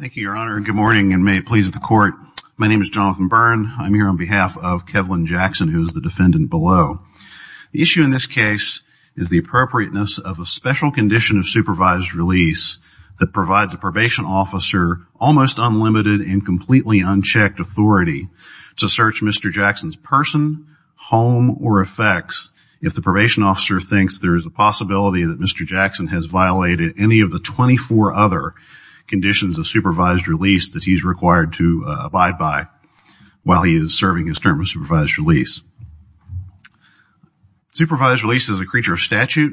Thank you, Your Honor. Good morning, and may it please the Court. My name is Jonathan Byrne. I'm here on behalf of Kevlin Jackson, who is the defendant below. The issue in this case is the appropriateness of a special condition of supervised release that provides a probation officer almost unlimited and completely unchecked authority to search Mr. Jackson's person, home, or effects if the probation officer thinks there is a possibility that Mr. Jackson has violated any of the 24 other conditions of supervised release that he's required to abide by while he is serving his term of supervised release. Supervised release is a creature of statute,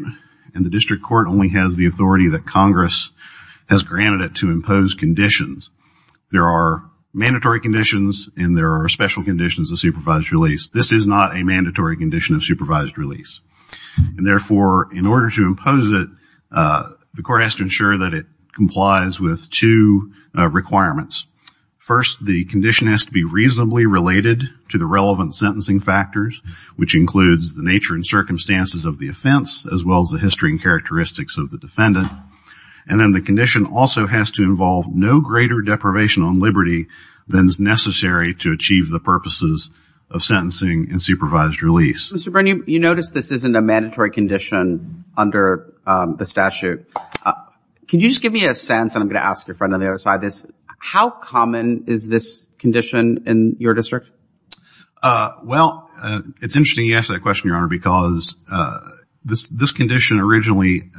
and the District Court only has the authority that Congress has granted it to impose conditions. There are mandatory conditions, and there are special conditions of supervised release. This is not a mandatory condition of supervised release. And therefore, in order to impose it, the Court has to ensure that it complies with two requirements. First, the condition has to be reasonably related to the relevant sentencing factors, which includes the nature and circumstances of the offense, as well as the history and characteristics of the defendant. And then the condition also has to involve no greater deprivation on liberty than is necessary to achieve the purposes of sentencing in supervised release. Mr. Brennan, you notice this isn't a mandatory condition under the statute. Could you just give me a sense, and I'm going to ask your friend on the other side this, how common is this condition in your district? Well, it's interesting you ask that question, Your Honor, because this condition originally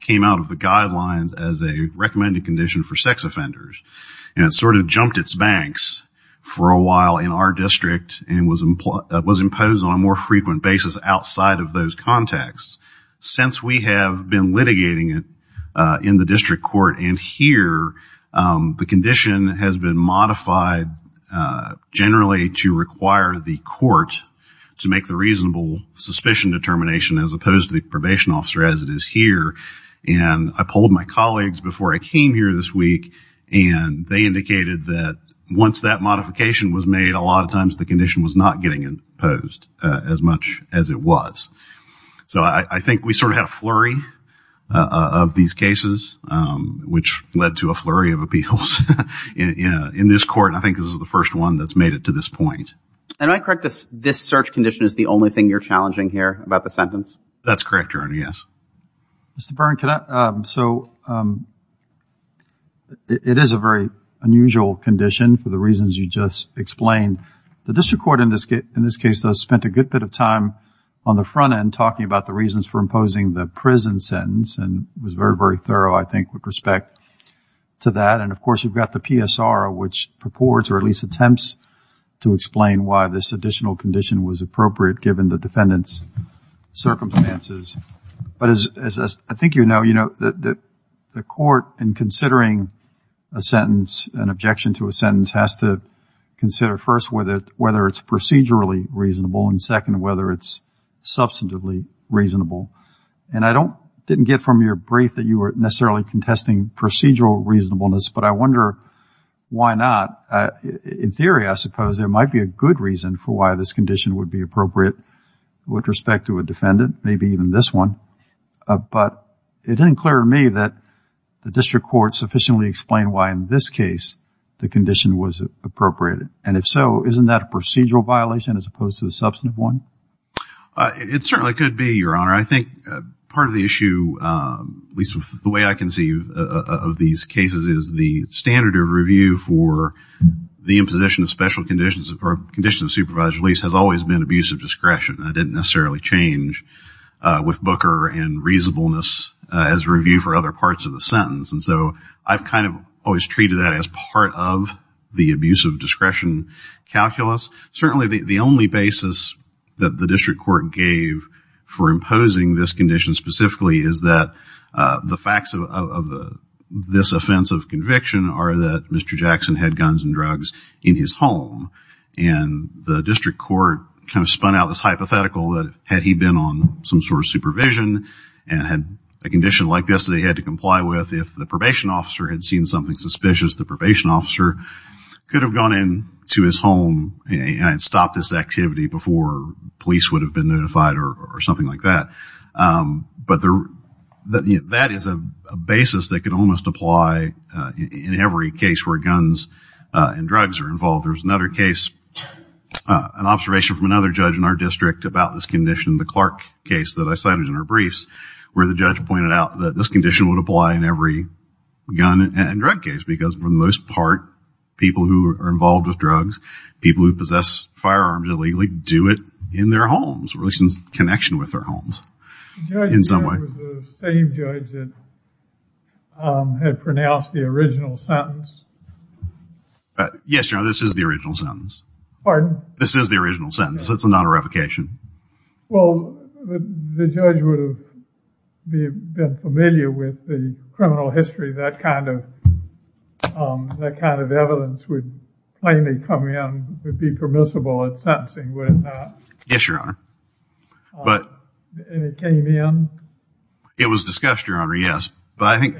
came out of the guidelines as a recommended condition for sex offenders, and it sort of appeared on a more frequent basis outside of those contexts. Since we have been litigating it in the district court and here, the condition has been modified generally to require the court to make the reasonable suspicion determination as opposed to the probation officer as it is here. And I polled my colleagues before I came here this week, and they indicated that once that modification was made, a lot of times the condition was not getting imposed as much as it was. So I think we sort of had a flurry of these cases, which led to a flurry of appeals in this court, and I think this is the first one that's made it to this point. And I correct this, this search condition is the only thing you're challenging here about the sentence? That's correct, Your Honor, yes. Mr. Byrne, so it is a very unusual condition for the reasons you just explained. The district court in this case has spent a good bit of time on the front end talking about the reasons for imposing the prison sentence, and was very, very thorough, I think, with respect to that. And of course, you've got the PSR, which purports or at least attempts to explain why this additional condition was appropriate given the defendant's circumstances. But as I think you know, the court, in considering a sentence, an objection to a sentence, has to consider first whether it's procedurally reasonable, and second, whether it's substantively reasonable. And I didn't get from your brief that you were necessarily contesting procedural reasonableness, but I wonder why not. In theory, I suppose, there might be a good reason for why this condition would be appropriate with respect to a defendant, maybe even this one. But it didn't clear to me that the district court sufficiently explained why in this case the condition was appropriate. And if so, isn't that a procedural violation as opposed to a substantive one? It certainly could be, Your Honor. I think part of the issue, at least with the way I conceive of these cases, is the standard of review for the imposition of special conditions or conditions of supervised release has always been abuse of discretion. That didn't necessarily change with Booker and reasonableness as review for other parts of the sentence. And so I've kind of always treated that as part of the abuse of discretion calculus. Certainly the only basis that the district court gave for imposing this condition specifically is that the facts of this offense of conviction are that Mr. Jackson had guns and drugs in his home. And the district court kind of spun out this hypothetical that had he been on some sort of supervision and had a condition like this that he had to comply with, if the district court had seen something suspicious, the probation officer could have gone in to his home and stopped this activity before police would have been notified or something like that. But that is a basis that could almost apply in every case where guns and drugs are involved. There's another case, an observation from another judge in our district about this condition, the Clark case that I cited in our briefs, where the judge pointed out that this condition would apply in every gun and drug case, because for the most part, people who are involved with drugs, people who possess firearms illegally, do it in their homes, or at least in connection with their homes in some way. The judge there was the same judge that had pronounced the original sentence. Yes, Your Honor, this is the original sentence. Pardon? This is the original sentence. This is not a revocation. Well, the judge would have been familiar with the criminal history, that kind of evidence would plainly come in, would be permissible at sentencing, would it not? Yes, Your Honor. And it came in? It was discussed, Your Honor, yes. But I think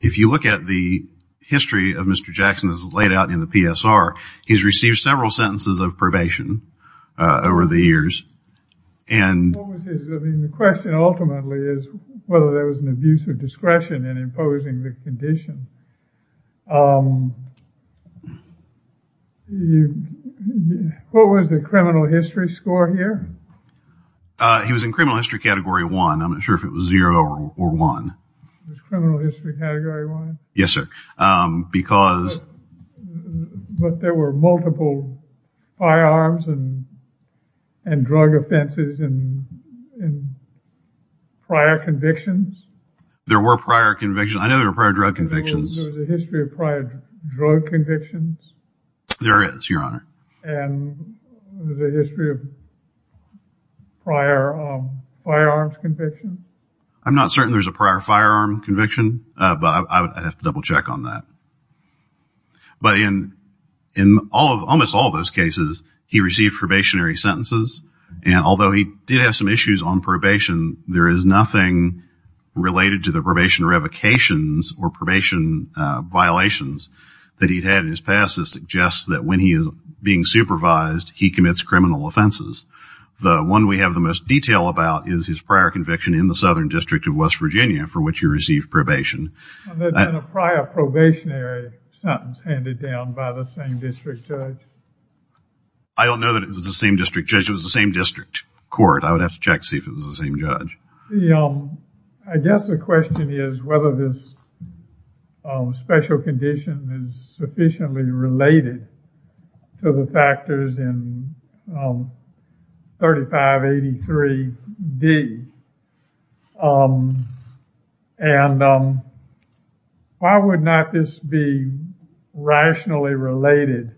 if you look at the history of Mr. Jackson that's laid out in the PSR, he's received several sentences of probation over the years. The question ultimately is whether there was an abuse of discretion in imposing the condition. What was the criminal history score here? He was in criminal history category one. I'm not sure if it was zero or one. Criminal history category one? Yes, sir. Because... But there were multiple firearms and drug offenses and prior convictions? There were prior convictions. I know there were prior drug convictions. There was a history of prior drug convictions? There is, Your Honor. And the history of prior firearms convictions? I'm not certain there's a prior firearm conviction, but I'd have to double check on that. But in almost all of those cases, he received probationary sentences. And although he did have some issues on probation, there is nothing related to the probation revocations or probation violations that he had in his past that suggests that when he is being supervised, he commits criminal offenses. The one we have the most detail about is his prior conviction in the Southern District of West Virginia, for which he received probation. And there's been a prior probationary sentence handed down by the same district judge? I don't know that it was the same district judge. It was the same district court. I would have to check to see if it was the same judge. I guess the question is whether this special condition is sufficiently related to the factors in 3583D. And why would not this be rationally related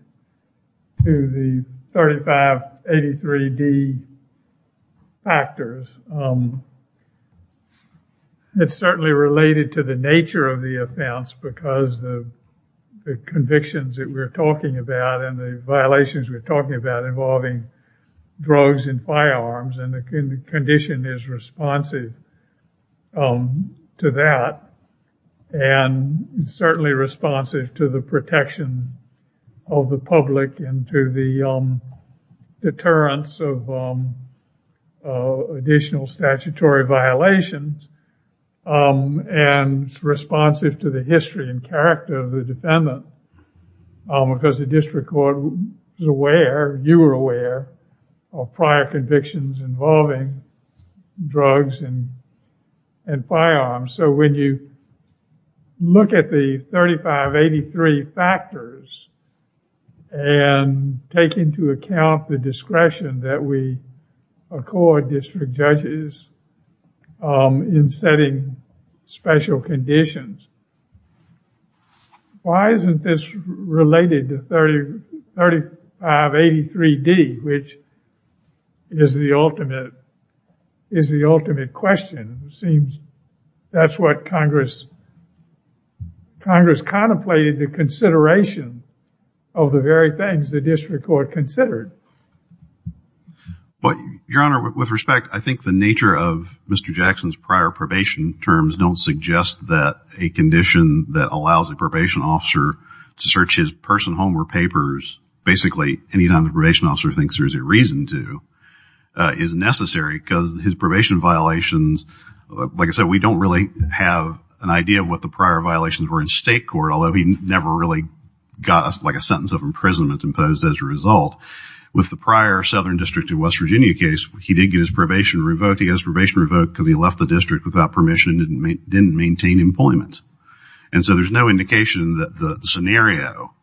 to the 3583D factors? It's certainly related to the nature of the offense because the convictions that we're talking about and the violations we're talking about involving drugs and firearms and the condition is responsive to that. And certainly responsive to the protection of the public and to the deterrence of additional statutory violations and responsive to the history and character of the defendant because the district court is aware, you were aware, of prior convictions involving drugs and firearms. So when you look at the 3583 factors and take into account the discretion that we accord district judges in setting special conditions, why isn't this related to 3583D, which is the ultimate question? It seems that's what Congress contemplated the consideration of the very things the district court considered. Your Honor, with respect, I think the nature of Mr. Jackson's prior probation terms don't suggest that a condition that allows a probation officer to search his personal home or papers, basically any time the probation officer thinks there's a reason to, is necessary because his probation violations, like I said, we don't really have an idea of what the prior violations were in state court, although he never really got like a sentence of imprisonment imposed as a result. With the prior Southern District of West Virginia case, he did get his probation revoked. He got his probation revoked because he left the district without permission and didn't maintain employment. And so there's no indication that the scenario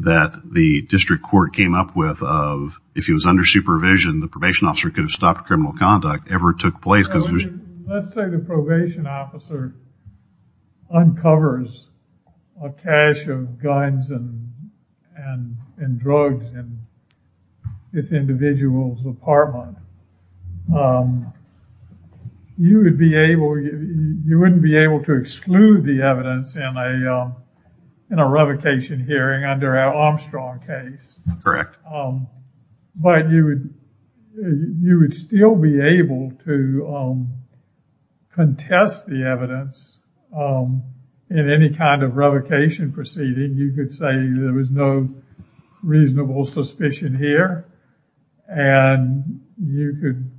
that the district court came up with of if he was under supervision, the probation officer could have stopped criminal conduct ever took place. Let's say the probation officer uncovers a cache of guns and drugs in this individual's apartment. You wouldn't be able to exclude the evidence in a revocation hearing under our Armstrong case. Correct. But you would still be able to contest the evidence in any kind of revocation proceeding. You could say there was no reasonable suspicion here and you could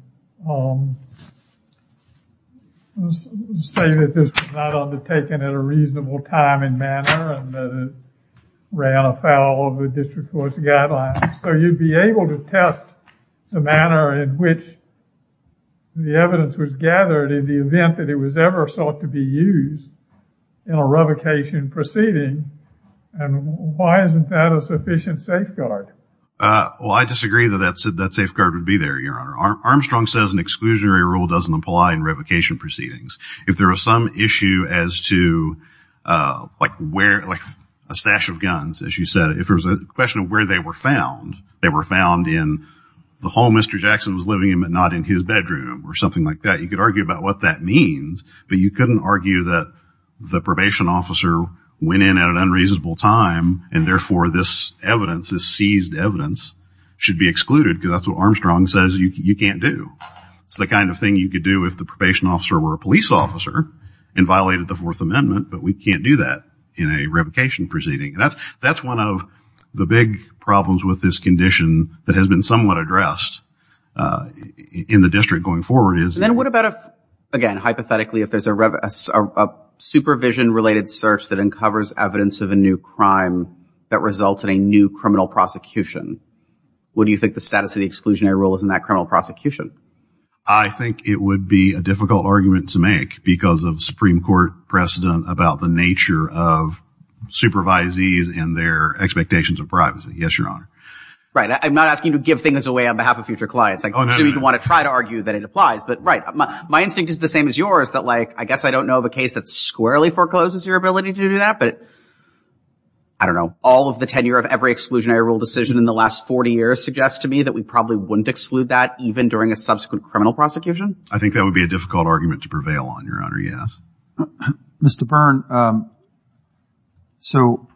say that this was not undertaken at a reasonable time and manner and that it ran afoul of the district court's guidelines. So you'd be able to test the manner in which the evidence was gathered in the event that it was ever sought to be used in a revocation proceeding. And why isn't that a sufficient safeguard? Well, I disagree that that safeguard would be there, Your Honor. Armstrong says an exclusionary rule doesn't apply in revocation proceedings. If there was some issue as to like a stash of guns, as you said, if there was a question of where they were found, they were found in the home Mr. Jackson was living in but not in his bedroom or something like that, you could argue about what that means. But you couldn't argue that the probation officer went in at an unreasonable time and therefore this evidence, this seized evidence, should be excluded because that's what Armstrong says you can't do. It's the kind of thing you could do if the probation officer were a police officer and violated the Fourth Amendment, but we can't do that in a revocation proceeding. That's one of the big problems with this condition that has been somewhat addressed in the district going forward. And then what about if, again, hypothetically, if there's a supervision-related search that uncovers evidence of a new crime that results in a new criminal prosecution? What do you think the status of the exclusionary rule is in that criminal prosecution? I think it would be a difficult argument to make because of Supreme Court precedent about the nature of supervisees and their expectations of privacy. Yes, Your Honor. Right. I'm not asking you to give things away on behalf of future clients. I'm assuming you want to try to argue that it applies. But right. My instinct is the same as yours that like I guess I don't know of a case that squarely forecloses your ability to do that, but I don't know. All of the tenure of every exclusionary rule decision in the last 40 years suggests to me that we probably wouldn't exclude that even during a subsequent criminal prosecution. I think that would be a difficult argument to prevail on, Your Honor. Yes. Mr. Byrne, so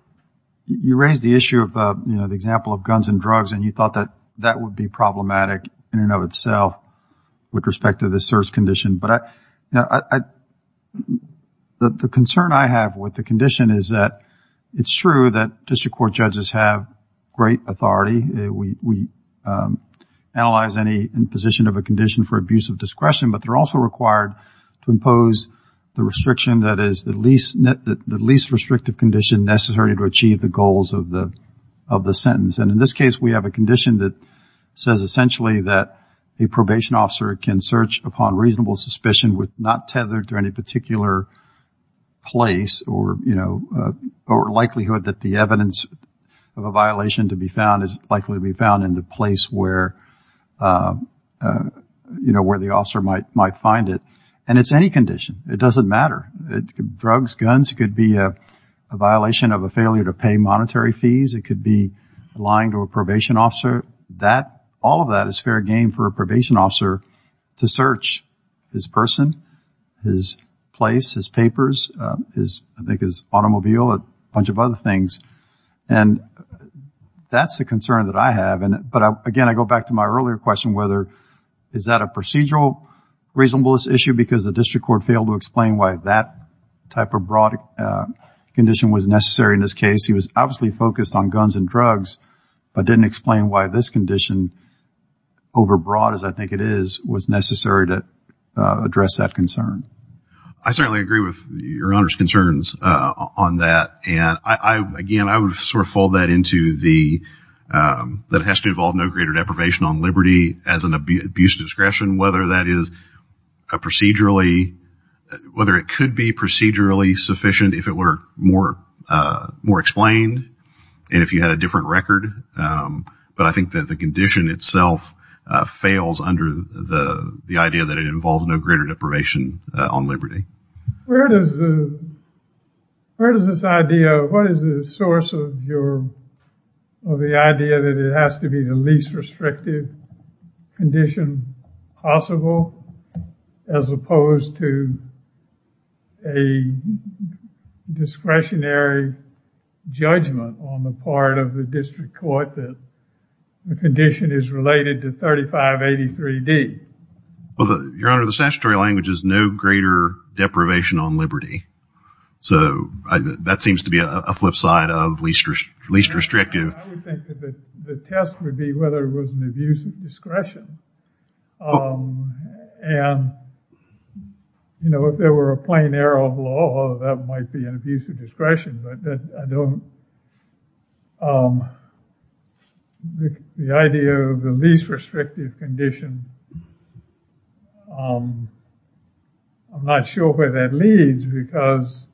you raised the issue of the example of guns and drugs and you thought that that would be problematic in and of itself with respect to the search condition. But the concern I have with the condition is that it's true that district court judges have great authority. We analyze any position of a condition for abuse of discretion, but they're also required to impose the restriction that is the least restrictive condition necessary to achieve the goals of the sentence. And in this case, we have a condition that says essentially that a probation officer can search upon reasonable suspicion with not tethered to any particular place or likelihood that the evidence of a violation to be found is likely to be found in the place where the officer might find it. And it's any condition. It doesn't matter. Drugs, guns could be a violation of a failure to pay monetary fees. It could be lying to a probation officer. All of that is fair game for a probation officer to search his person, his place, his papers, I think his automobile, a bunch of other things. And that's the concern that I have. But, again, I go back to my earlier question whether is that a procedural reasonableness issue because the district court failed to explain why that type of broad condition was necessary in this case. He was obviously focused on guns and drugs, but didn't explain why this condition, overbroad as I think it is, was necessary to address that concern. I certainly agree with Your Honor's concerns on that. And, again, I would sort of fold that into the that it has to involve no greater deprivation on liberty as an abuse of discretion, whether that is a procedurally, whether it could be procedurally sufficient if it were more explained and if you had a different record. But I think that the condition itself fails under the idea that it involves no greater deprivation on liberty. Where does this idea, what is the source of your, of the idea that it has to be the least restrictive condition possible as opposed to a discretionary judgment on the part of the district court that the condition is related to 3583D? Your Honor, the statutory language is no greater deprivation on liberty. So that seems to be a flip side of least restrictive. I would think that the test would be whether it was an abuse of discretion. And, you know, if there were a plain error of law, that might be an abuse of discretion. But I don't, the idea of the least restrictive condition, I'm not sure where that leads because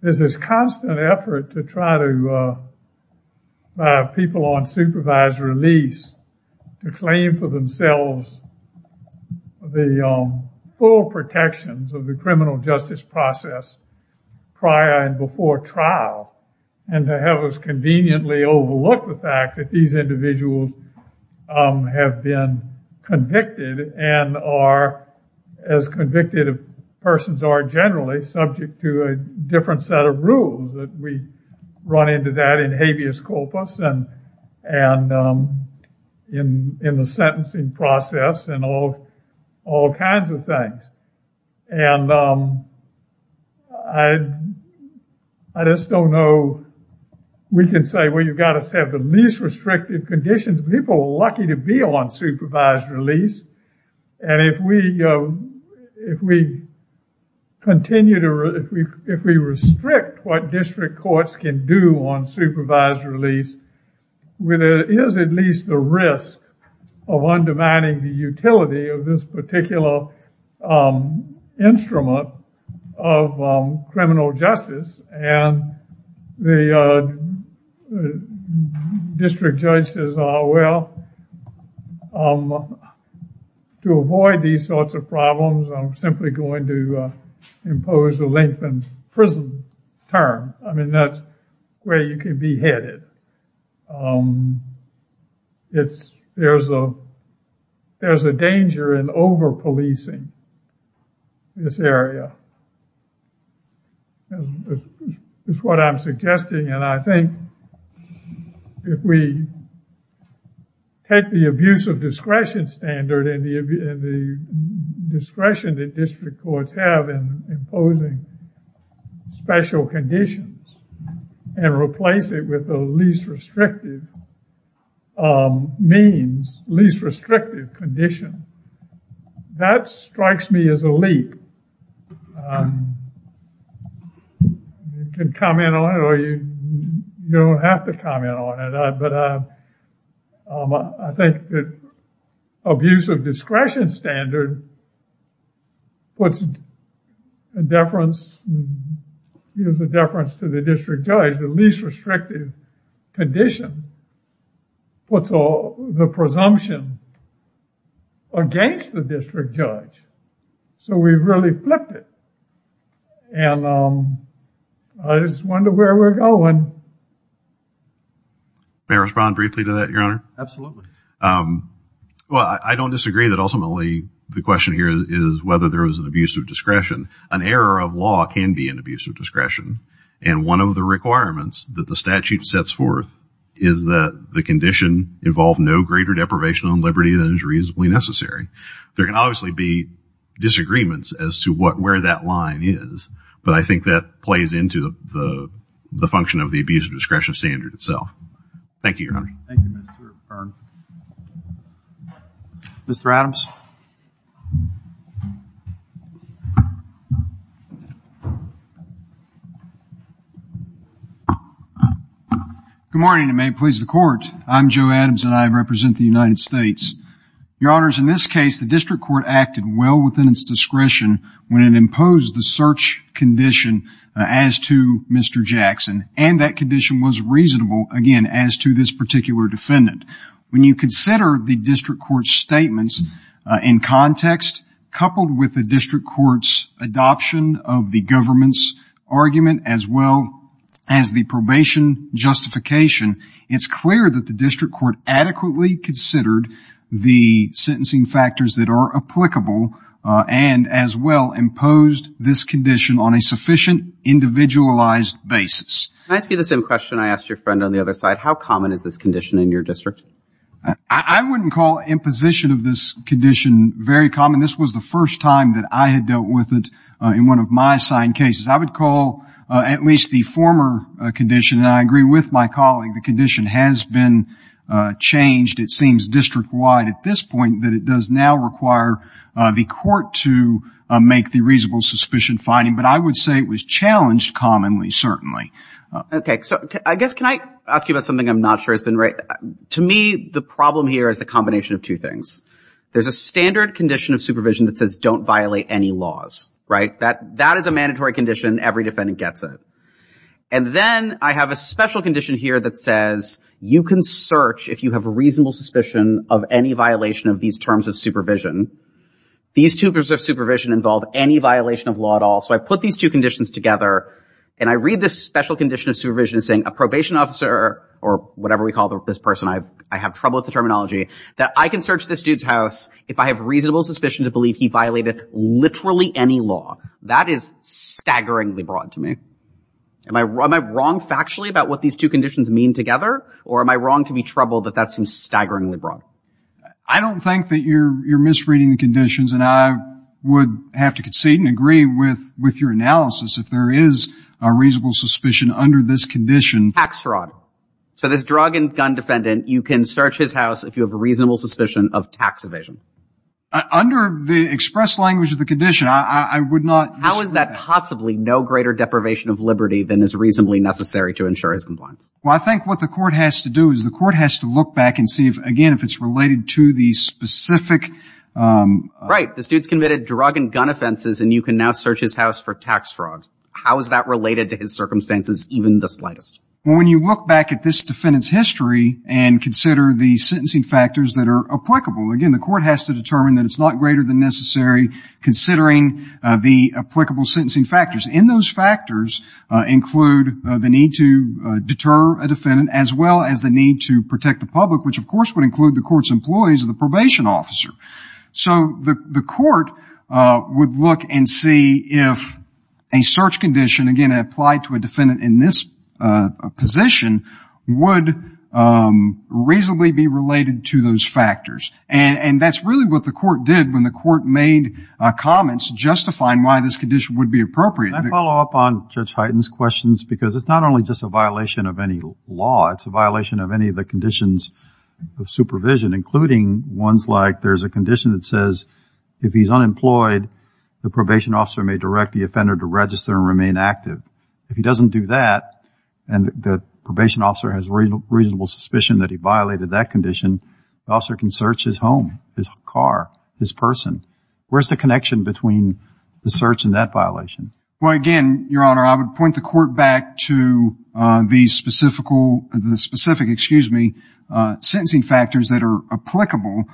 there's this constant effort to try to, by people on supervised release, to claim for themselves the full protections of the criminal justice process prior and before trial. And to have us conveniently overlook the fact that these individuals have been convicted and are, as convicted persons are generally, subject to a different set of rules that we run into that in habeas corpus and in the sentencing process and all kinds of things. And I just don't know. We can say, well, you've got to have the least restrictive conditions. People are lucky to be on supervised release. And if we, if we continue to, if we restrict what district courts can do on supervised release, where there is at least the risk of undermining the utility of this particular instrument of criminal justice. And the district judge says, well, to avoid these sorts of problems, I'm simply going to impose a lengthened prison term. I mean, that's where you can be headed. It's, there's a, there's a danger in over-policing this area. That's what I'm suggesting. And I think if we take the abuse of discretion standard and the discretion that district courts have in imposing special conditions and replace it with the least restrictive means, least restrictive condition, that strikes me as a leap. You can comment on it or you don't have to comment on it. But I think that abuse of discretion standard puts a deference, gives a deference to the district judge. The least restrictive condition puts all the presumption against the district judge. So we've really flipped it. And I just wonder where we're going. May I respond briefly to that, Your Honor? Absolutely. Well, I don't disagree that ultimately the question here is whether there is an abuse of discretion. An error of law can be an abuse of discretion. And one of the requirements that the statute sets forth is that the condition involve no greater deprivation on liberty than is reasonably necessary. There can obviously be disagreements as to what, where that line is. But I think that plays into the function of the abuse of discretion standard itself. Thank you, Your Honor. Thank you, Mr. Byrne. Mr. Adams. Good morning, and may it please the Court. I'm Joe Adams, and I represent the United States. Your Honors, in this case, the district court acted well within its discretion when it imposed the search condition as to Mr. Jackson. And that condition was reasonable, again, as to this particular defendant. When you consider the district court's statements in context, coupled with the district court's adoption of the government's argument as well as the probation justification, it's clear that the district court adequately considered the sentencing factors that are applicable and as well imposed this condition on a sufficient individualized basis. Can I ask you the same question I asked your friend on the other side? How common is this condition in your district? I wouldn't call imposition of this condition very common. This was the first time that I had dealt with it in one of my assigned cases. I would call at least the former condition, and I agree with my colleague, the condition has been changed, it seems, district-wide at this point, that it does now require the court to make the reasonable suspicion finding. But I would say it was challenged commonly, certainly. Okay, so I guess can I ask you about something I'm not sure has been right? To me, the problem here is the combination of two things. There's a standard condition of supervision that says don't violate any laws, right? That is a mandatory condition. Every defendant gets it. And then I have a special condition here that says you can search, if you have a reasonable suspicion of any violation of these terms of supervision. These two terms of supervision involve any violation of law at all. So I put these two conditions together, and I read this special condition of supervision as saying a probation officer or whatever we call this person, I have trouble with the terminology, that I can search this dude's house if I have reasonable suspicion to believe he violated literally any law. That is staggeringly broad to me. Am I wrong factually about what these two conditions mean together, or am I wrong to be troubled that that seems staggeringly broad? I don't think that you're misreading the conditions, and I would have to concede and agree with your analysis if there is a reasonable suspicion under this condition. Tax fraud. So this drug and gun defendant, you can search his house if you have a reasonable suspicion of tax evasion. Under the express language of the condition, I would not use that. How is that possibly no greater deprivation of liberty than is reasonably necessary to ensure his compliance? Well, I think what the court has to do is the court has to look back and see if, again, if it's related to the specific... Right. This dude's committed drug and gun offenses, and you can now search his house for tax fraud. How is that related to his circumstances, even the slightest? Well, when you look back at this defendant's history and consider the sentencing factors that are applicable, again, the court has to determine that it's not greater than necessary considering the applicable sentencing factors. And those factors include the need to deter a defendant as well as the need to protect the public, which of course would include the court's employees or the probation officer. So the court would look and see if a search condition, again, applied to a defendant in this position would reasonably be related to those factors. And that's really what the court did when the court made comments justifying why this condition would be appropriate. Can I follow up on Judge Hyten's questions? Because it's not only just a violation of any law, it's a violation of any of the conditions of supervision, including ones like there's a condition that says if he's unemployed, the probation officer may direct the offender to register and remain active. If he doesn't do that, and the probation officer has reasonable suspicion that he violated that condition, the officer can search his home, his car, his person. Where's the connection between the search and that violation? Well, again, Your Honor, I would point the court back to the specific, excuse me, sentencing factors that are applicable.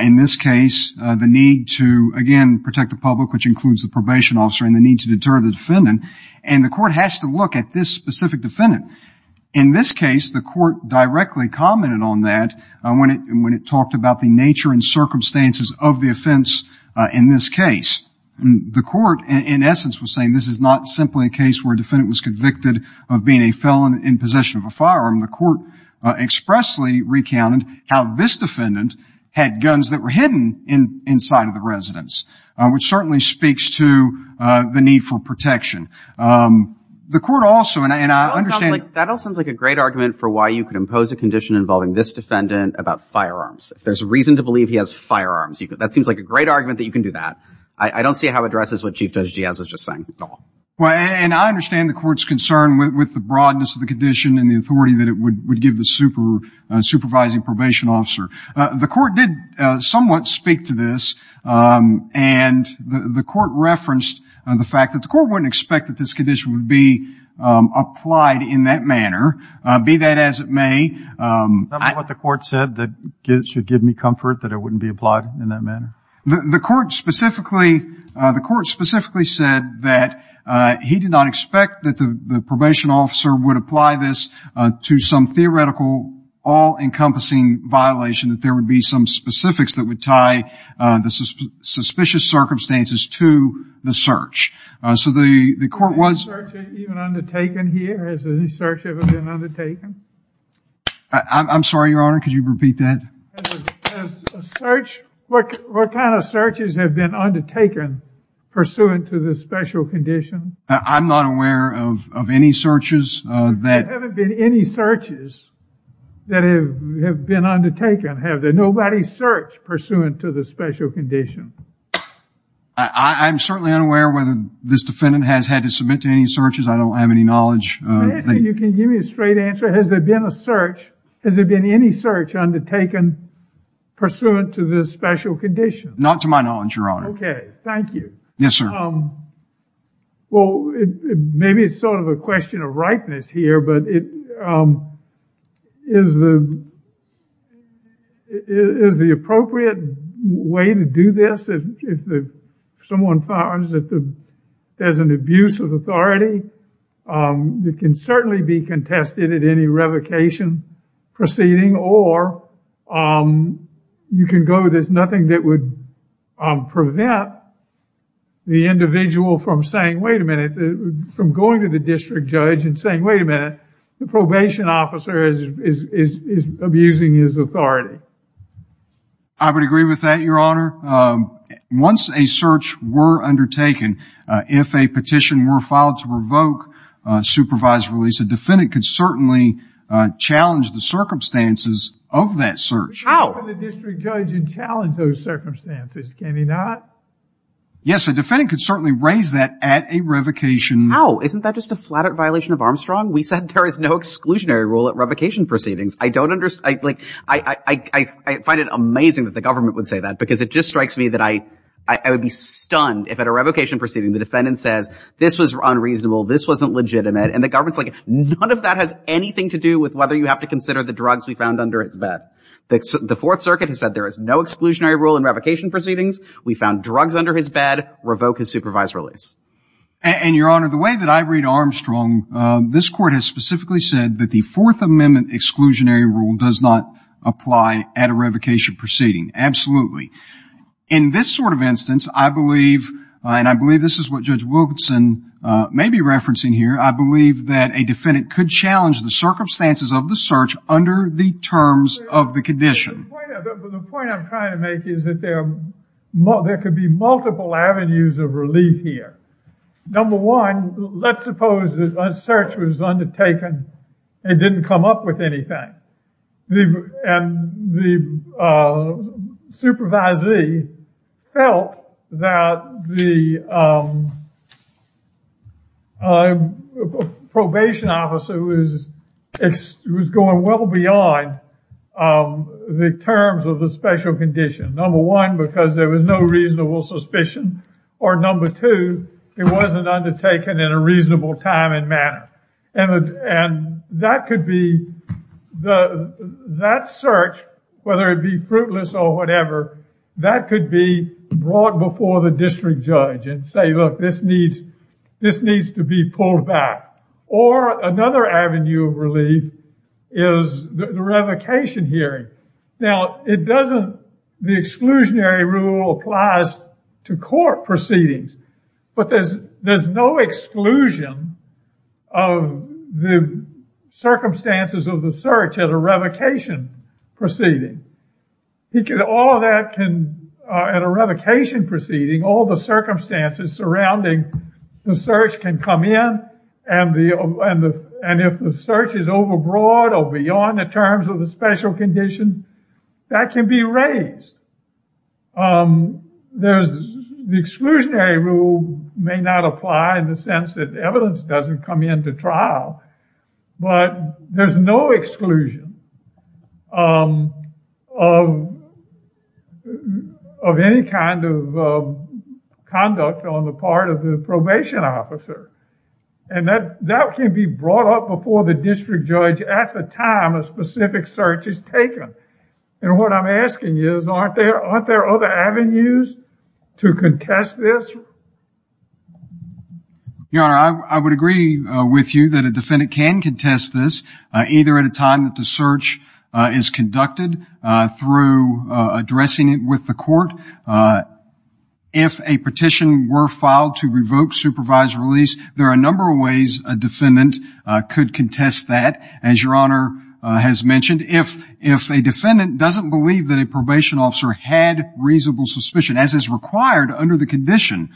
In this case, the need to, again, protect the public, which includes the probation officer, and the need to deter the defendant. And the court has to look at this specific defendant. In this case, the court directly commented on that when it talked about the nature and circumstances of the offense in this case. The court, in essence, was saying this is not simply a case where a defendant was convicted of being a felon in possession of a firearm. The court expressly recounted how this defendant had guns that were hidden inside of the residence, which certainly speaks to the need for protection. The court also, and I understand... That all sounds like a great argument for why you could impose a condition involving this defendant about firearms. If there's a reason to believe he has firearms, that seems like a great argument that you can do that. I don't see how it addresses what Chief Judge Diaz was just saying at all. Well, and I understand the court's concern with the broadness of the condition and the authority that it would give the supervising probation officer. The court did somewhat speak to this, and the court referenced the fact that the court wouldn't expect that this condition would be applied in that manner, be that as it may. Is that what the court said, that it should give me comfort that it wouldn't be applied in that manner? The court specifically said that he did not expect that the probation officer would apply this to some theoretical all-encompassing violation, that there would be some specifics that would tie the suspicious circumstances to the search. So the court was... Has a search even been undertaken here? Has any search ever been undertaken? I'm sorry, Your Honor, could you repeat that? Has a search... What kind of searches have been undertaken pursuant to this special condition? I'm not aware of any searches that... There haven't been any searches that have been undertaken, have there? Nobody searched pursuant to the special condition? I'm certainly unaware whether this defendant has had to submit to any searches. I don't have any knowledge. You can give me a straight answer. Has there been a search, has there been any search undertaken pursuant to this special condition? Not to my knowledge, Your Honor. Okay, thank you. Yes, sir. Well, maybe it's sort of a question of ripeness here, but is the appropriate way to do this if someone finds that there's an abuse of authority? It can certainly be contested at any revocation proceeding or you can go there's nothing that would prevent the individual from saying, wait a minute, from going to the district judge and saying, wait a minute, the probation officer is abusing his authority. I would agree with that, Your Honor. Once a search were undertaken, if a petition were filed to revoke supervisory release, a defendant could certainly challenge the circumstances of that search. How? You can go to the district judge and challenge those circumstances, can you not? Yes, a defendant could certainly raise that at a revocation. How? Isn't that just a flat out violation of Armstrong? We said there is no exclusionary rule at revocation proceedings. I find it amazing that the government would say that because it just strikes me that I would be stunned if at a revocation proceeding the defendant says this was unreasonable, this wasn't legitimate, and the government is like none of that has anything to do with whether you have to consider the drugs we found under his bed. The Fourth Circuit has said there is no exclusionary rule in revocation proceedings. We found drugs under his bed. Revoke his supervised release. And, Your Honor, the way that I read Armstrong, this Court has specifically said that the Fourth Amendment exclusionary rule does not apply at a revocation proceeding. Absolutely. In this sort of instance, I believe, and I believe this is what Judge Wilkinson may be referencing here, I believe that a defendant could challenge the circumstances of the search under the terms of the condition. The point I'm trying to make is that there could be multiple avenues of relief here. Number one, let's suppose that a search was undertaken and it didn't come up with anything. And the supervisee felt that the probation officer was going well beyond the terms of the special condition. Number one, because there was no reasonable suspicion. Or number two, it wasn't undertaken in a reasonable time and manner. And that could be, that search, whether it be fruitless or whatever, that could be brought before the district judge and say, look, this needs to be pulled back. Or another avenue of relief is the revocation hearing. Now, it doesn't, the exclusionary rule applies to court proceedings. But there's no exclusion of the circumstances of the search at a revocation proceeding. All that can, at a revocation proceeding, all the circumstances surrounding the search can come in and if the search is overbroad or beyond the terms of the special condition, that can be raised. The exclusionary rule may not apply in the sense that evidence doesn't come into trial. But there's no exclusion of any kind of conduct on the part of the probation officer. And that can be brought up before the district judge at the time a specific search is taken. And what I'm asking is, aren't there other avenues to contest this? Your Honor, I would agree with you that a defendant can contest this, either at a time that the search is conducted through addressing it with the court. If a petition were filed to revoke supervised release, there are a number of ways a defendant could contest that, as Your Honor has mentioned. If a defendant doesn't believe that a probation officer had reasonable suspicion, as is required under the condition,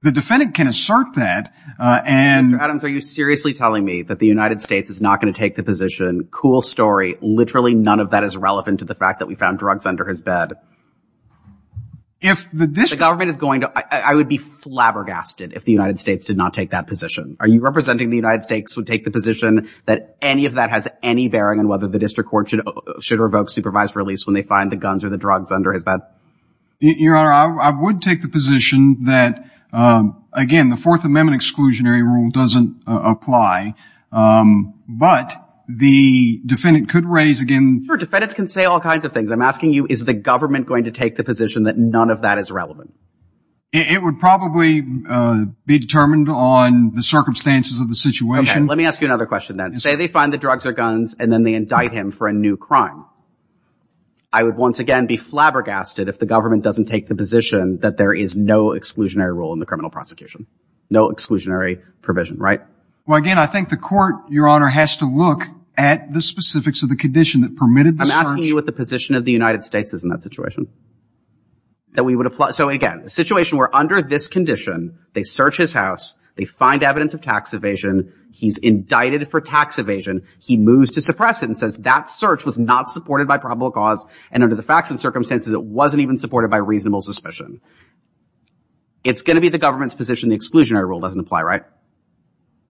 the defendant can assert that and — Mr. Adams, are you seriously telling me that the United States is not going to take the position? Cool story. Literally none of that is relevant to the fact that we found drugs under his bed. If the district — The government is going to — I would be flabbergasted if the United States did not take that position. Are you representing the United States would take the position that any of that has any bearing on whether the district court should revoke supervised release when they find the guns or the drugs under his bed? Your Honor, I would take the position that, again, the Fourth Amendment exclusionary rule doesn't apply. But the defendant could raise again — Sure, defendants can say all kinds of things. I'm asking you, is the government going to take the position that none of that is relevant? It would probably be determined on the circumstances of the situation. Okay, let me ask you another question then. Say they find the drugs or guns and then they indict him for a new crime. I would once again be flabbergasted if the government doesn't take the position that there is no exclusionary rule in the criminal prosecution, no exclusionary provision, right? Well, again, I think the court, Your Honor, has to look at the specifics of the condition that permitted the search. I'm asking you what the position of the United States is in that situation, that we would apply — so, again, a situation where under this condition they search his house, they find evidence of tax evasion, he's indicted for tax evasion, he moves to suppress it and says that search was not supported by probable cause and under the facts and circumstances it wasn't even supported by reasonable suspicion. It's going to be the government's position the exclusionary rule doesn't apply, right?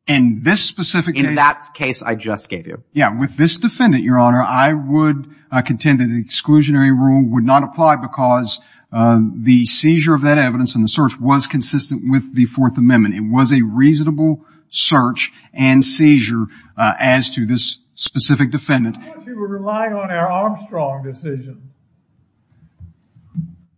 In this specific case — In that case I just gave you. Yeah, with this defendant, Your Honor, I would contend that the exclusionary rule would not apply because the seizure of that evidence and the search was consistent with the Fourth Amendment. It was a reasonable search and seizure as to this specific defendant. I thought you were relying on our Armstrong decision.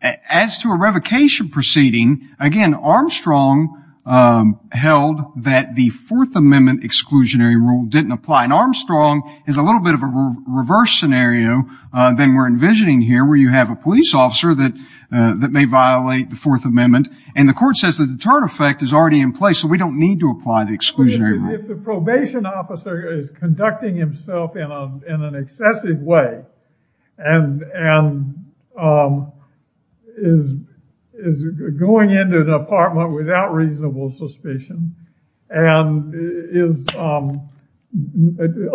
As to a revocation proceeding, again, Armstrong held that the Fourth Amendment exclusionary rule didn't apply. And Armstrong is a little bit of a reverse scenario than we're envisioning here where you have a police officer that may violate the Fourth Amendment and the court says the deterrent effect is already in place so we don't need to apply the exclusionary rule. If the probation officer is conducting himself in an excessive way and is going into the apartment without reasonable suspicion and is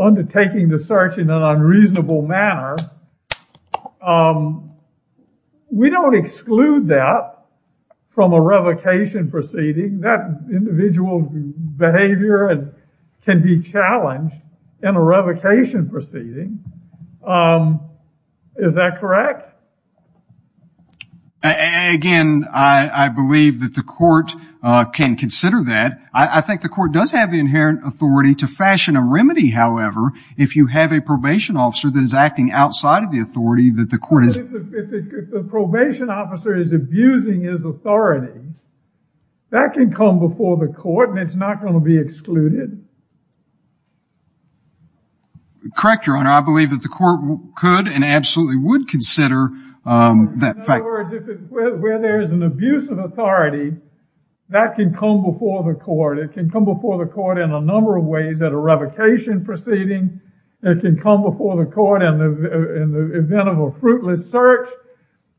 undertaking the search in an unreasonable manner, we don't exclude that from a revocation proceeding. That individual behavior can be challenged in a revocation proceeding. Is that correct? Again, I believe that the court can consider that. I think the court does have the inherent authority to fashion a remedy, however, if you have a probation officer that is acting outside of the authority that the court is... If the probation officer is abusing his authority, that can come before the court and it's not going to be excluded. Correct, Your Honor. I believe that the court could and absolutely would consider that fact. In other words, where there is an abuse of authority, that can come before the court. It can come before the court in a number of ways at a revocation proceeding. It can come before the court in the event of a fruitless search.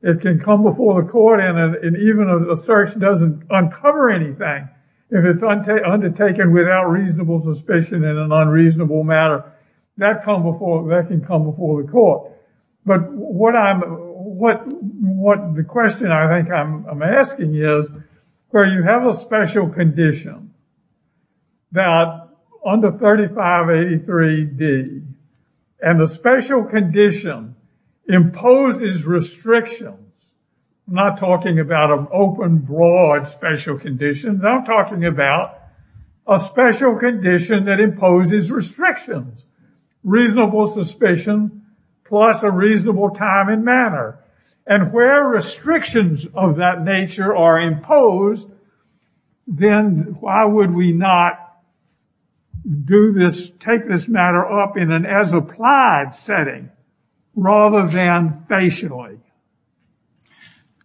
It can come before the court and even a search doesn't uncover anything if it's undertaken without reasonable suspicion in an unreasonable manner. That can come before the court. But what the question I think I'm asking is, where you have a special condition that under 3583D and the special condition imposes restrictions. I'm not talking about an open, broad special condition. I'm talking about a special condition that imposes restrictions. Reasonable suspicion plus a reasonable time and manner. And where restrictions of that nature are imposed, then why would we not do this, take this matter up in an as applied setting rather than facially?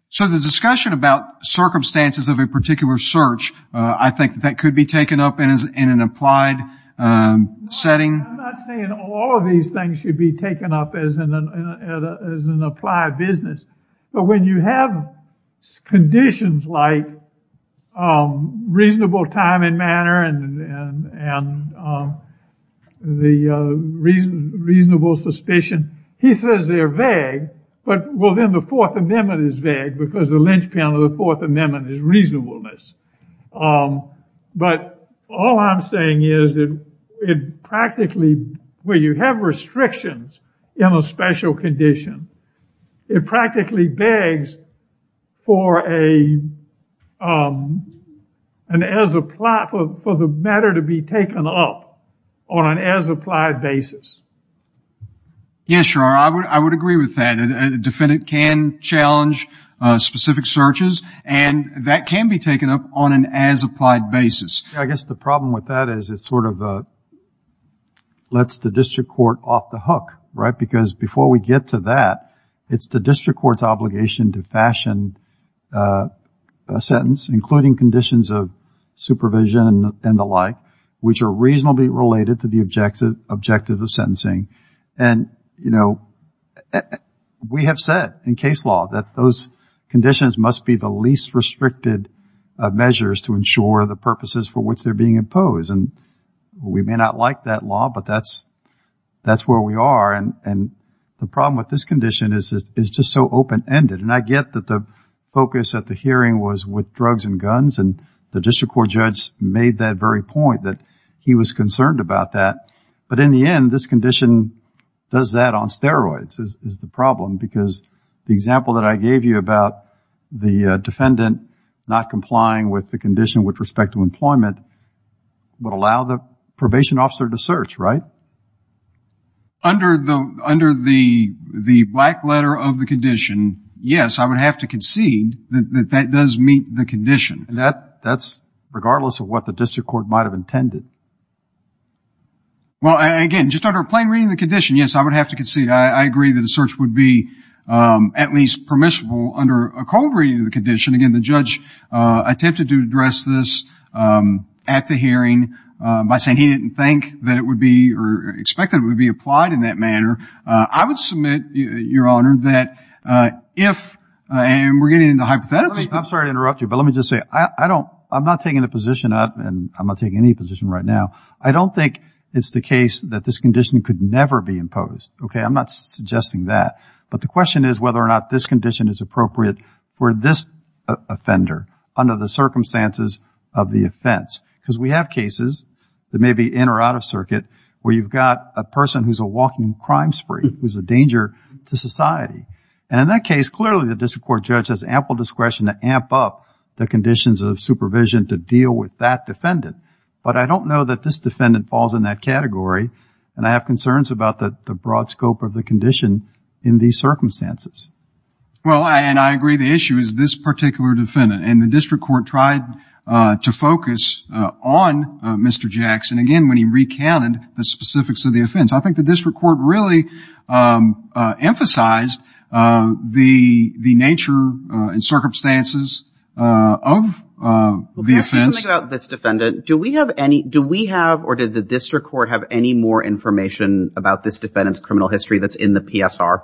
So the discussion about circumstances of a particular search, I think that could be taken up in an applied setting. I'm not saying all of these things should be taken up as an applied business. But when you have conditions like reasonable time and manner and the reasonable suspicion, he says they're vague. But, well, then the Fourth Amendment is vague because the linchpin of the Fourth Amendment is reasonableness. But all I'm saying is that it practically, where you have restrictions in a special condition, it practically begs for the matter to be taken up on an as applied basis. Yes, Your Honor, I would agree with that. A defendant can challenge specific searches and that can be taken up on an as applied basis. I guess the problem with that is it sort of lets the district court off the hook, right? Because before we get to that, it's the district court's obligation to fashion a sentence, including conditions of supervision and the like, which are reasonably related to the objective of sentencing. And, you know, we have said in case law that those conditions must be the least restricted measures to ensure the purposes for which they're being imposed. And we may not like that law, but that's where we are. And the problem with this condition is it's just so open-ended. And I get that the focus at the hearing was with drugs and guns and the district court judge made that very point that he was concerned about that. But in the end, this condition does that on steroids is the problem because the example that I gave you about the defendant not complying with the condition with respect to employment would allow the probation officer to search, right? Under the black letter of the condition, yes, I would have to concede that that does meet the condition. And that's regardless of what the district court might have intended? Well, again, just under a plain reading of the condition, yes, I would have to concede. I agree that a search would be at least permissible under a cold reading of the condition. Again, the judge attempted to address this at the hearing by saying he didn't think that it would be or expect that it would be applied in that manner. I would submit, Your Honor, that if, and we're getting into hypotheticals. I'm sorry to interrupt you, but let me just say I don't, I'm not taking a position up and I'm not taking any position right now. I don't think it's the case that this condition could never be imposed. Okay, I'm not suggesting that. But the question is whether or not this condition is appropriate for this offender under the circumstances of the offense. Because we have cases that may be in or out of circuit where you've got a person who's a walking crime spree, who's a danger to society. And in that case, clearly the district court judge has ample discretion to amp up the conditions of supervision to deal with that defendant. But I don't know that this defendant falls in that category and I have concerns about the broad scope of the condition in these circumstances. Well, and I agree the issue is this particular defendant. And the district court tried to focus on Mr. Jackson, again, when he recounted the specifics of the offense. I think the district court really emphasized the nature and circumstances of the offense. Let me ask you something about this defendant. Do we have any, do we have or did the district court have any more information about this defendant's criminal history that's in the PSR?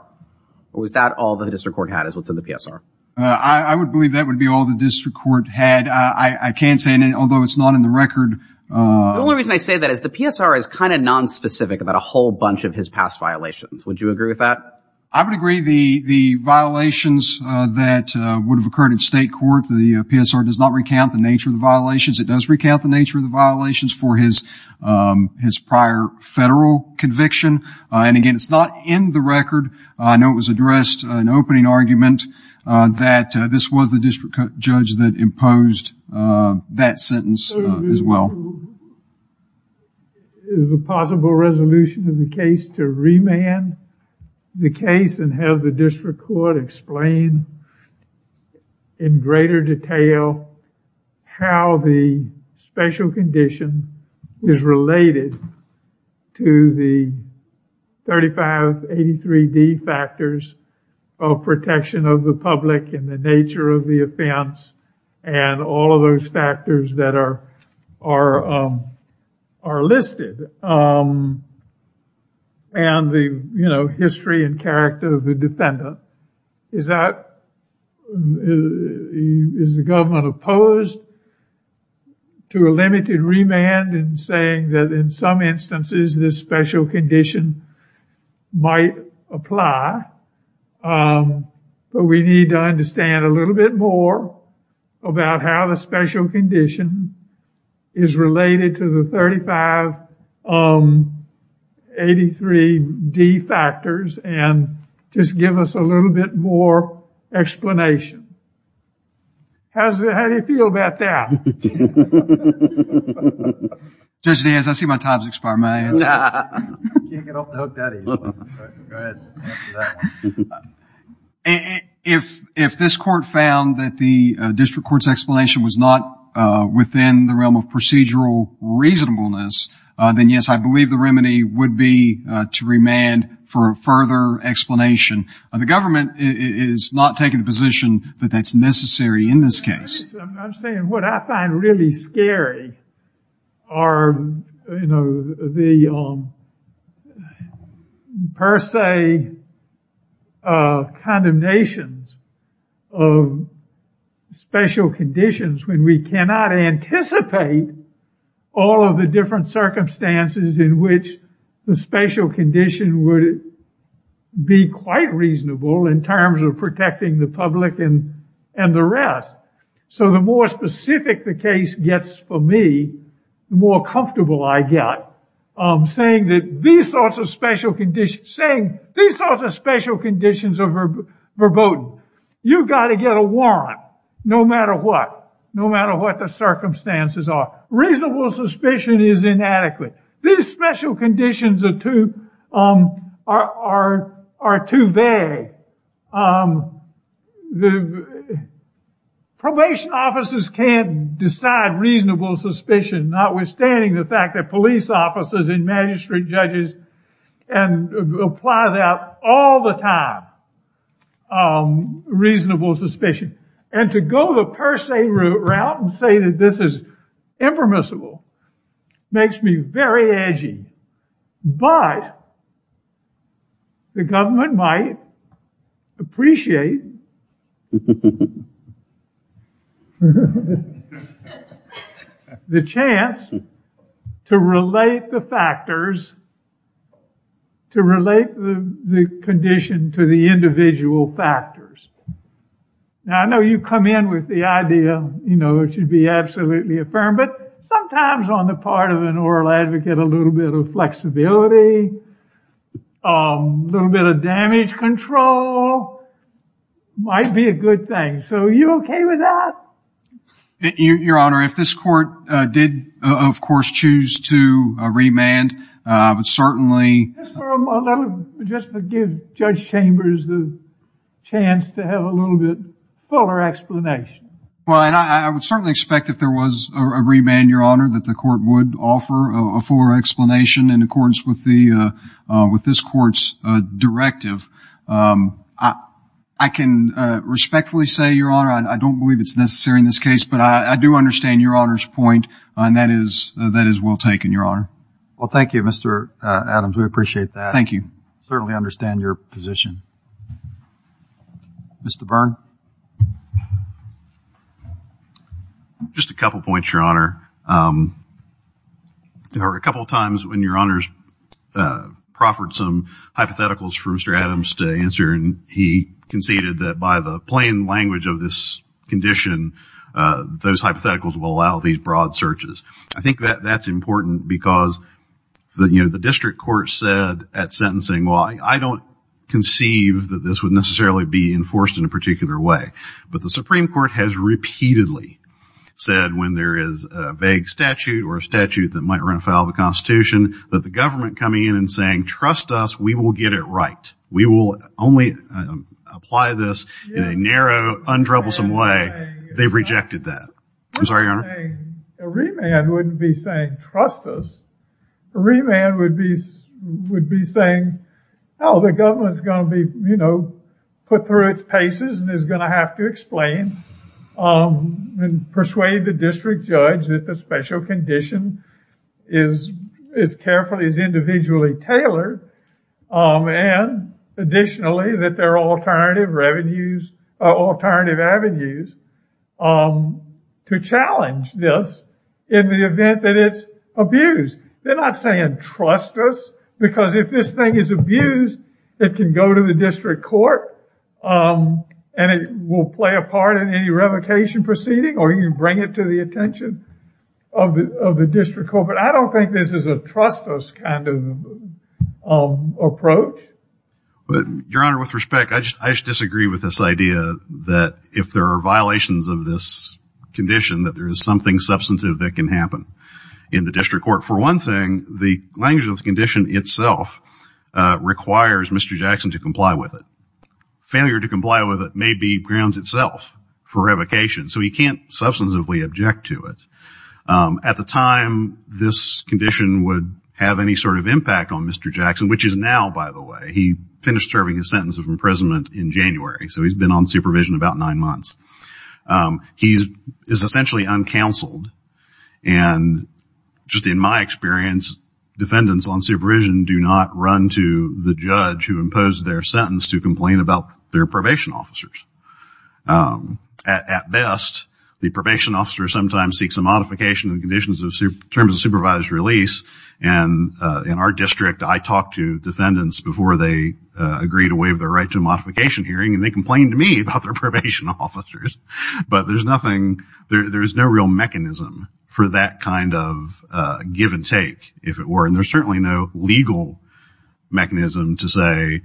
Or was that all the district court had is what's in the PSR? I would believe that would be all the district court had. I can't say, although it's not in the record. The only reason I say that is the PSR is kind of nonspecific about a whole bunch of his past violations. Would you agree with that? I would agree the violations that would have occurred in state court, the PSR does not recount the nature of the violations. It does recount the nature of the violations for his prior federal conviction. And again, it's not in the record. I know it was addressed in an opening argument that this was the district judge that imposed that sentence as well. Is a possible resolution in the case to remand the case and have the district court explain in greater detail how the special condition is related to the 3583D factors of protection of the public and the nature of the offense and all of those factors that are listed and the, you know, history and character of the defendant. Is that, is the government opposed to a limited remand and saying that in some instances this special condition might apply? But we need to understand a little bit more about how the special condition is related to the 3583D factors and just give us a little bit more explanation. How do you feel about that? Judge Diaz, I see my time has expired. If this court found that the district court's explanation was not within the realm of procedural reasonableness, then yes, I believe the remedy would be to remand for further explanation. The government is not taking the position that that's necessary in this case. I'm saying what I find really scary are, you know, the per se condemnations of special conditions when we cannot anticipate all of the different circumstances in which the special condition would be quite reasonable in terms of protecting the public and the rest. So the more specific the case gets for me, the more comfortable I get. I'm saying that these sorts of special conditions, saying these sorts of special conditions are verboten. You've got to get a warrant no matter what, no matter what the circumstances are. Reasonable suspicion is inadequate. These special conditions are too vague. Probation officers can't decide reasonable suspicion notwithstanding the fact that police officers and magistrate judges can apply that all the time, reasonable suspicion. And to go the per se route and say that this is impermissible makes me very edgy. But the government might appreciate the chance to relate the factors, to relate the condition to the individual factors. Now I know you come in with the idea, you know, it should be absolutely affirmed, but sometimes on the part of an oral advocate, a little bit of flexibility, a little bit of damage control might be a good thing. So are you OK with that? Your Honor, if this court did, of course, choose to remand, I would certainly Just to give Judge Chambers the chance to have a little bit fuller explanation. Well, and I would certainly expect if there was a remand, Your Honor, that the court would offer a fuller explanation in accordance with this court's directive. I can respectfully say, Your Honor, I don't believe it's necessary in this case, but I do understand Your Honor's point, and that is well taken, Your Honor. Well, thank you, Mr. Adams. We appreciate that. Thank you. Certainly understand your position. Mr. Byrne. Just a couple points, Your Honor. There were a couple times when Your Honor's proffered some hypotheticals for Mr. Adams to answer, and he conceded that by the plain language of this condition, those hypotheticals will allow these broad searches. I think that that's important because, you know, the district court said at sentencing, well, I don't conceive that this would necessarily be enforced in a particular way, but the Supreme Court has repeatedly said when there is a vague statute or a statute that might run afoul of the Constitution, that the government coming in and saying, trust us, we will get it right, we will only apply this in a narrow, untroublesome way, they've rejected that. I'm sorry, Your Honor. A remand wouldn't be saying, trust us. A remand would be saying, oh, the government's going to be, you know, put through its paces and is going to have to explain and persuade the district judge that the special condition is carefully, is individually tailored, and additionally that there are alternative avenues to challenge this in the event that it's abused. They're not saying, trust us, because if this thing is abused, it can go to the district court and it will play a part in any revocation proceeding or you can bring it to the attention of the district court. But I don't think this is a trust us kind of approach. Your Honor, with respect, I just disagree with this idea that if there are violations of this condition, that there is something substantive that can happen in the district court. For one thing, the language of the condition itself requires Mr. Jackson to comply with it. Failure to comply with it may be grounds itself for revocation, so he can't substantively object to it. At the time this condition would have any sort of impact on Mr. Jackson, which is now, by the way, he finished serving his sentence of imprisonment in January, so he's been on supervision about nine months. He is essentially uncounseled, and just in my experience, defendants on supervision do not run to the judge who imposed their sentence to complain about their probation officers. At best, the probation officer sometimes seeks a modification in terms of supervised release, and in our district, I talk to defendants before they agree to waive their right to a modification hearing, and they complain to me about their probation officers, but there's nothing, there's no real mechanism for that kind of give and take, if it were, and there's certainly no legal mechanism to say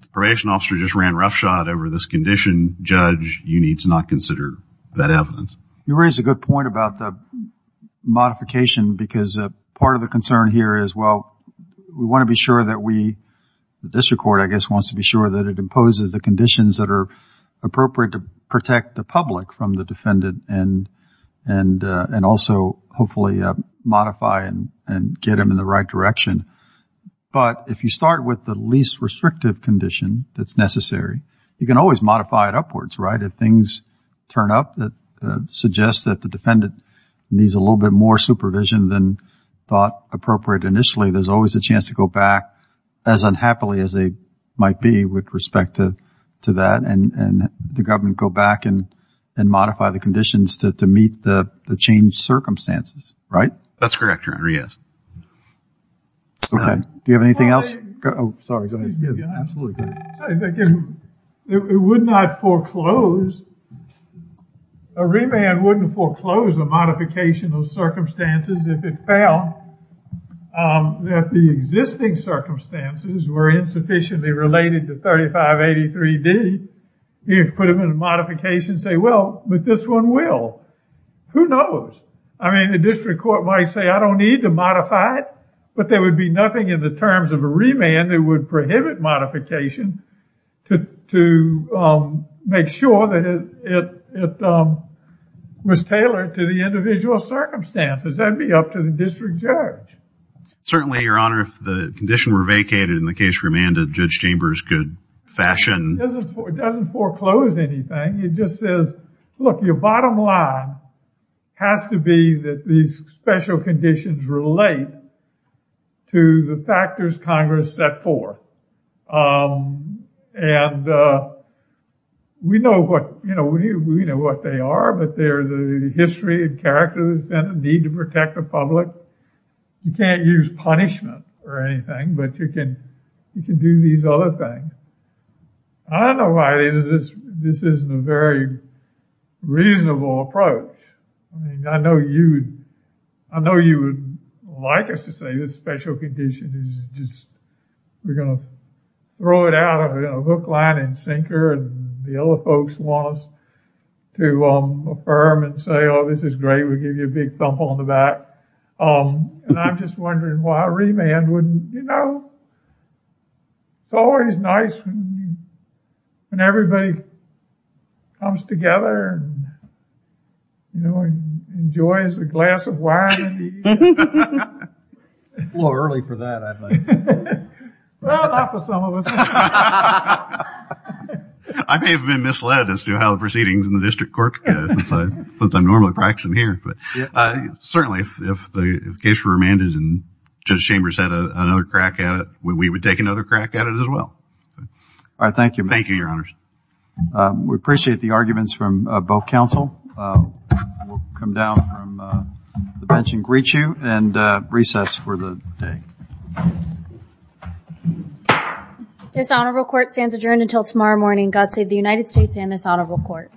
the probation officer just ran roughshod over this condition. Judge, you need to not consider that evidence. You raise a good point about the modification because part of the concern here is, well, we want to be sure that we, the district court, I guess, it imposes the conditions that are appropriate to protect the public from the defendant and also hopefully modify and get them in the right direction, but if you start with the least restrictive condition that's necessary, you can always modify it upwards, right? If things turn up that suggest that the defendant needs a little bit more supervision than thought appropriate initially, there's always a chance to go back, as unhappily as they might be with respect to that, and the government go back and modify the conditions to meet the changed circumstances, right? That's correct, your honor, yes. Okay, do you have anything else? Oh, sorry, go ahead. Yeah, absolutely. It would not foreclose, a remand wouldn't foreclose a modification of circumstances if it found that the existing circumstances were insufficiently related to 3583D. You put them in a modification and say, well, but this one will. Who knows? I mean, the district court might say, I don't need to modify it, but there would be nothing in the terms of a remand that would prohibit modification to make sure that it was tailored to the individual circumstances. That would be up to the district judge. Certainly, your honor, if the condition were vacated in the case remanded, Judge Chambers could fashion. It doesn't foreclose anything. It just says, look, your bottom line has to be that these special conditions relate to the factors Congress set forth. And we know what, you know, we know what they are, but they're the history and character that's been a need to protect the public. You can't use punishment or anything, but you can do these other things. I don't know why this isn't a very reasonable approach. I mean, I know you would like us to say this special condition is just, we're going to throw it out of a hook, line, and sinker, and the other folks want us to affirm and say, oh, this is great. We'll give you a big thump on the back. And I'm just wondering why a remand wouldn't, you know, it's always nice when everybody comes together and, you know, enjoys a glass of wine. It's a little early for that, I think. Well, not for some of us. I may have been misled as to how the proceedings in the district court, since I'm normally practicing here. But certainly if the case were remanded and Judge Chambers had another crack at it, we would take another crack at it as well. All right, thank you. Thank you, Your Honors. We appreciate the arguments from both counsel. We'll come down from the bench and greet you and recess for the day. This honorable court stands adjourned until tomorrow morning. God save the United States and this honorable court.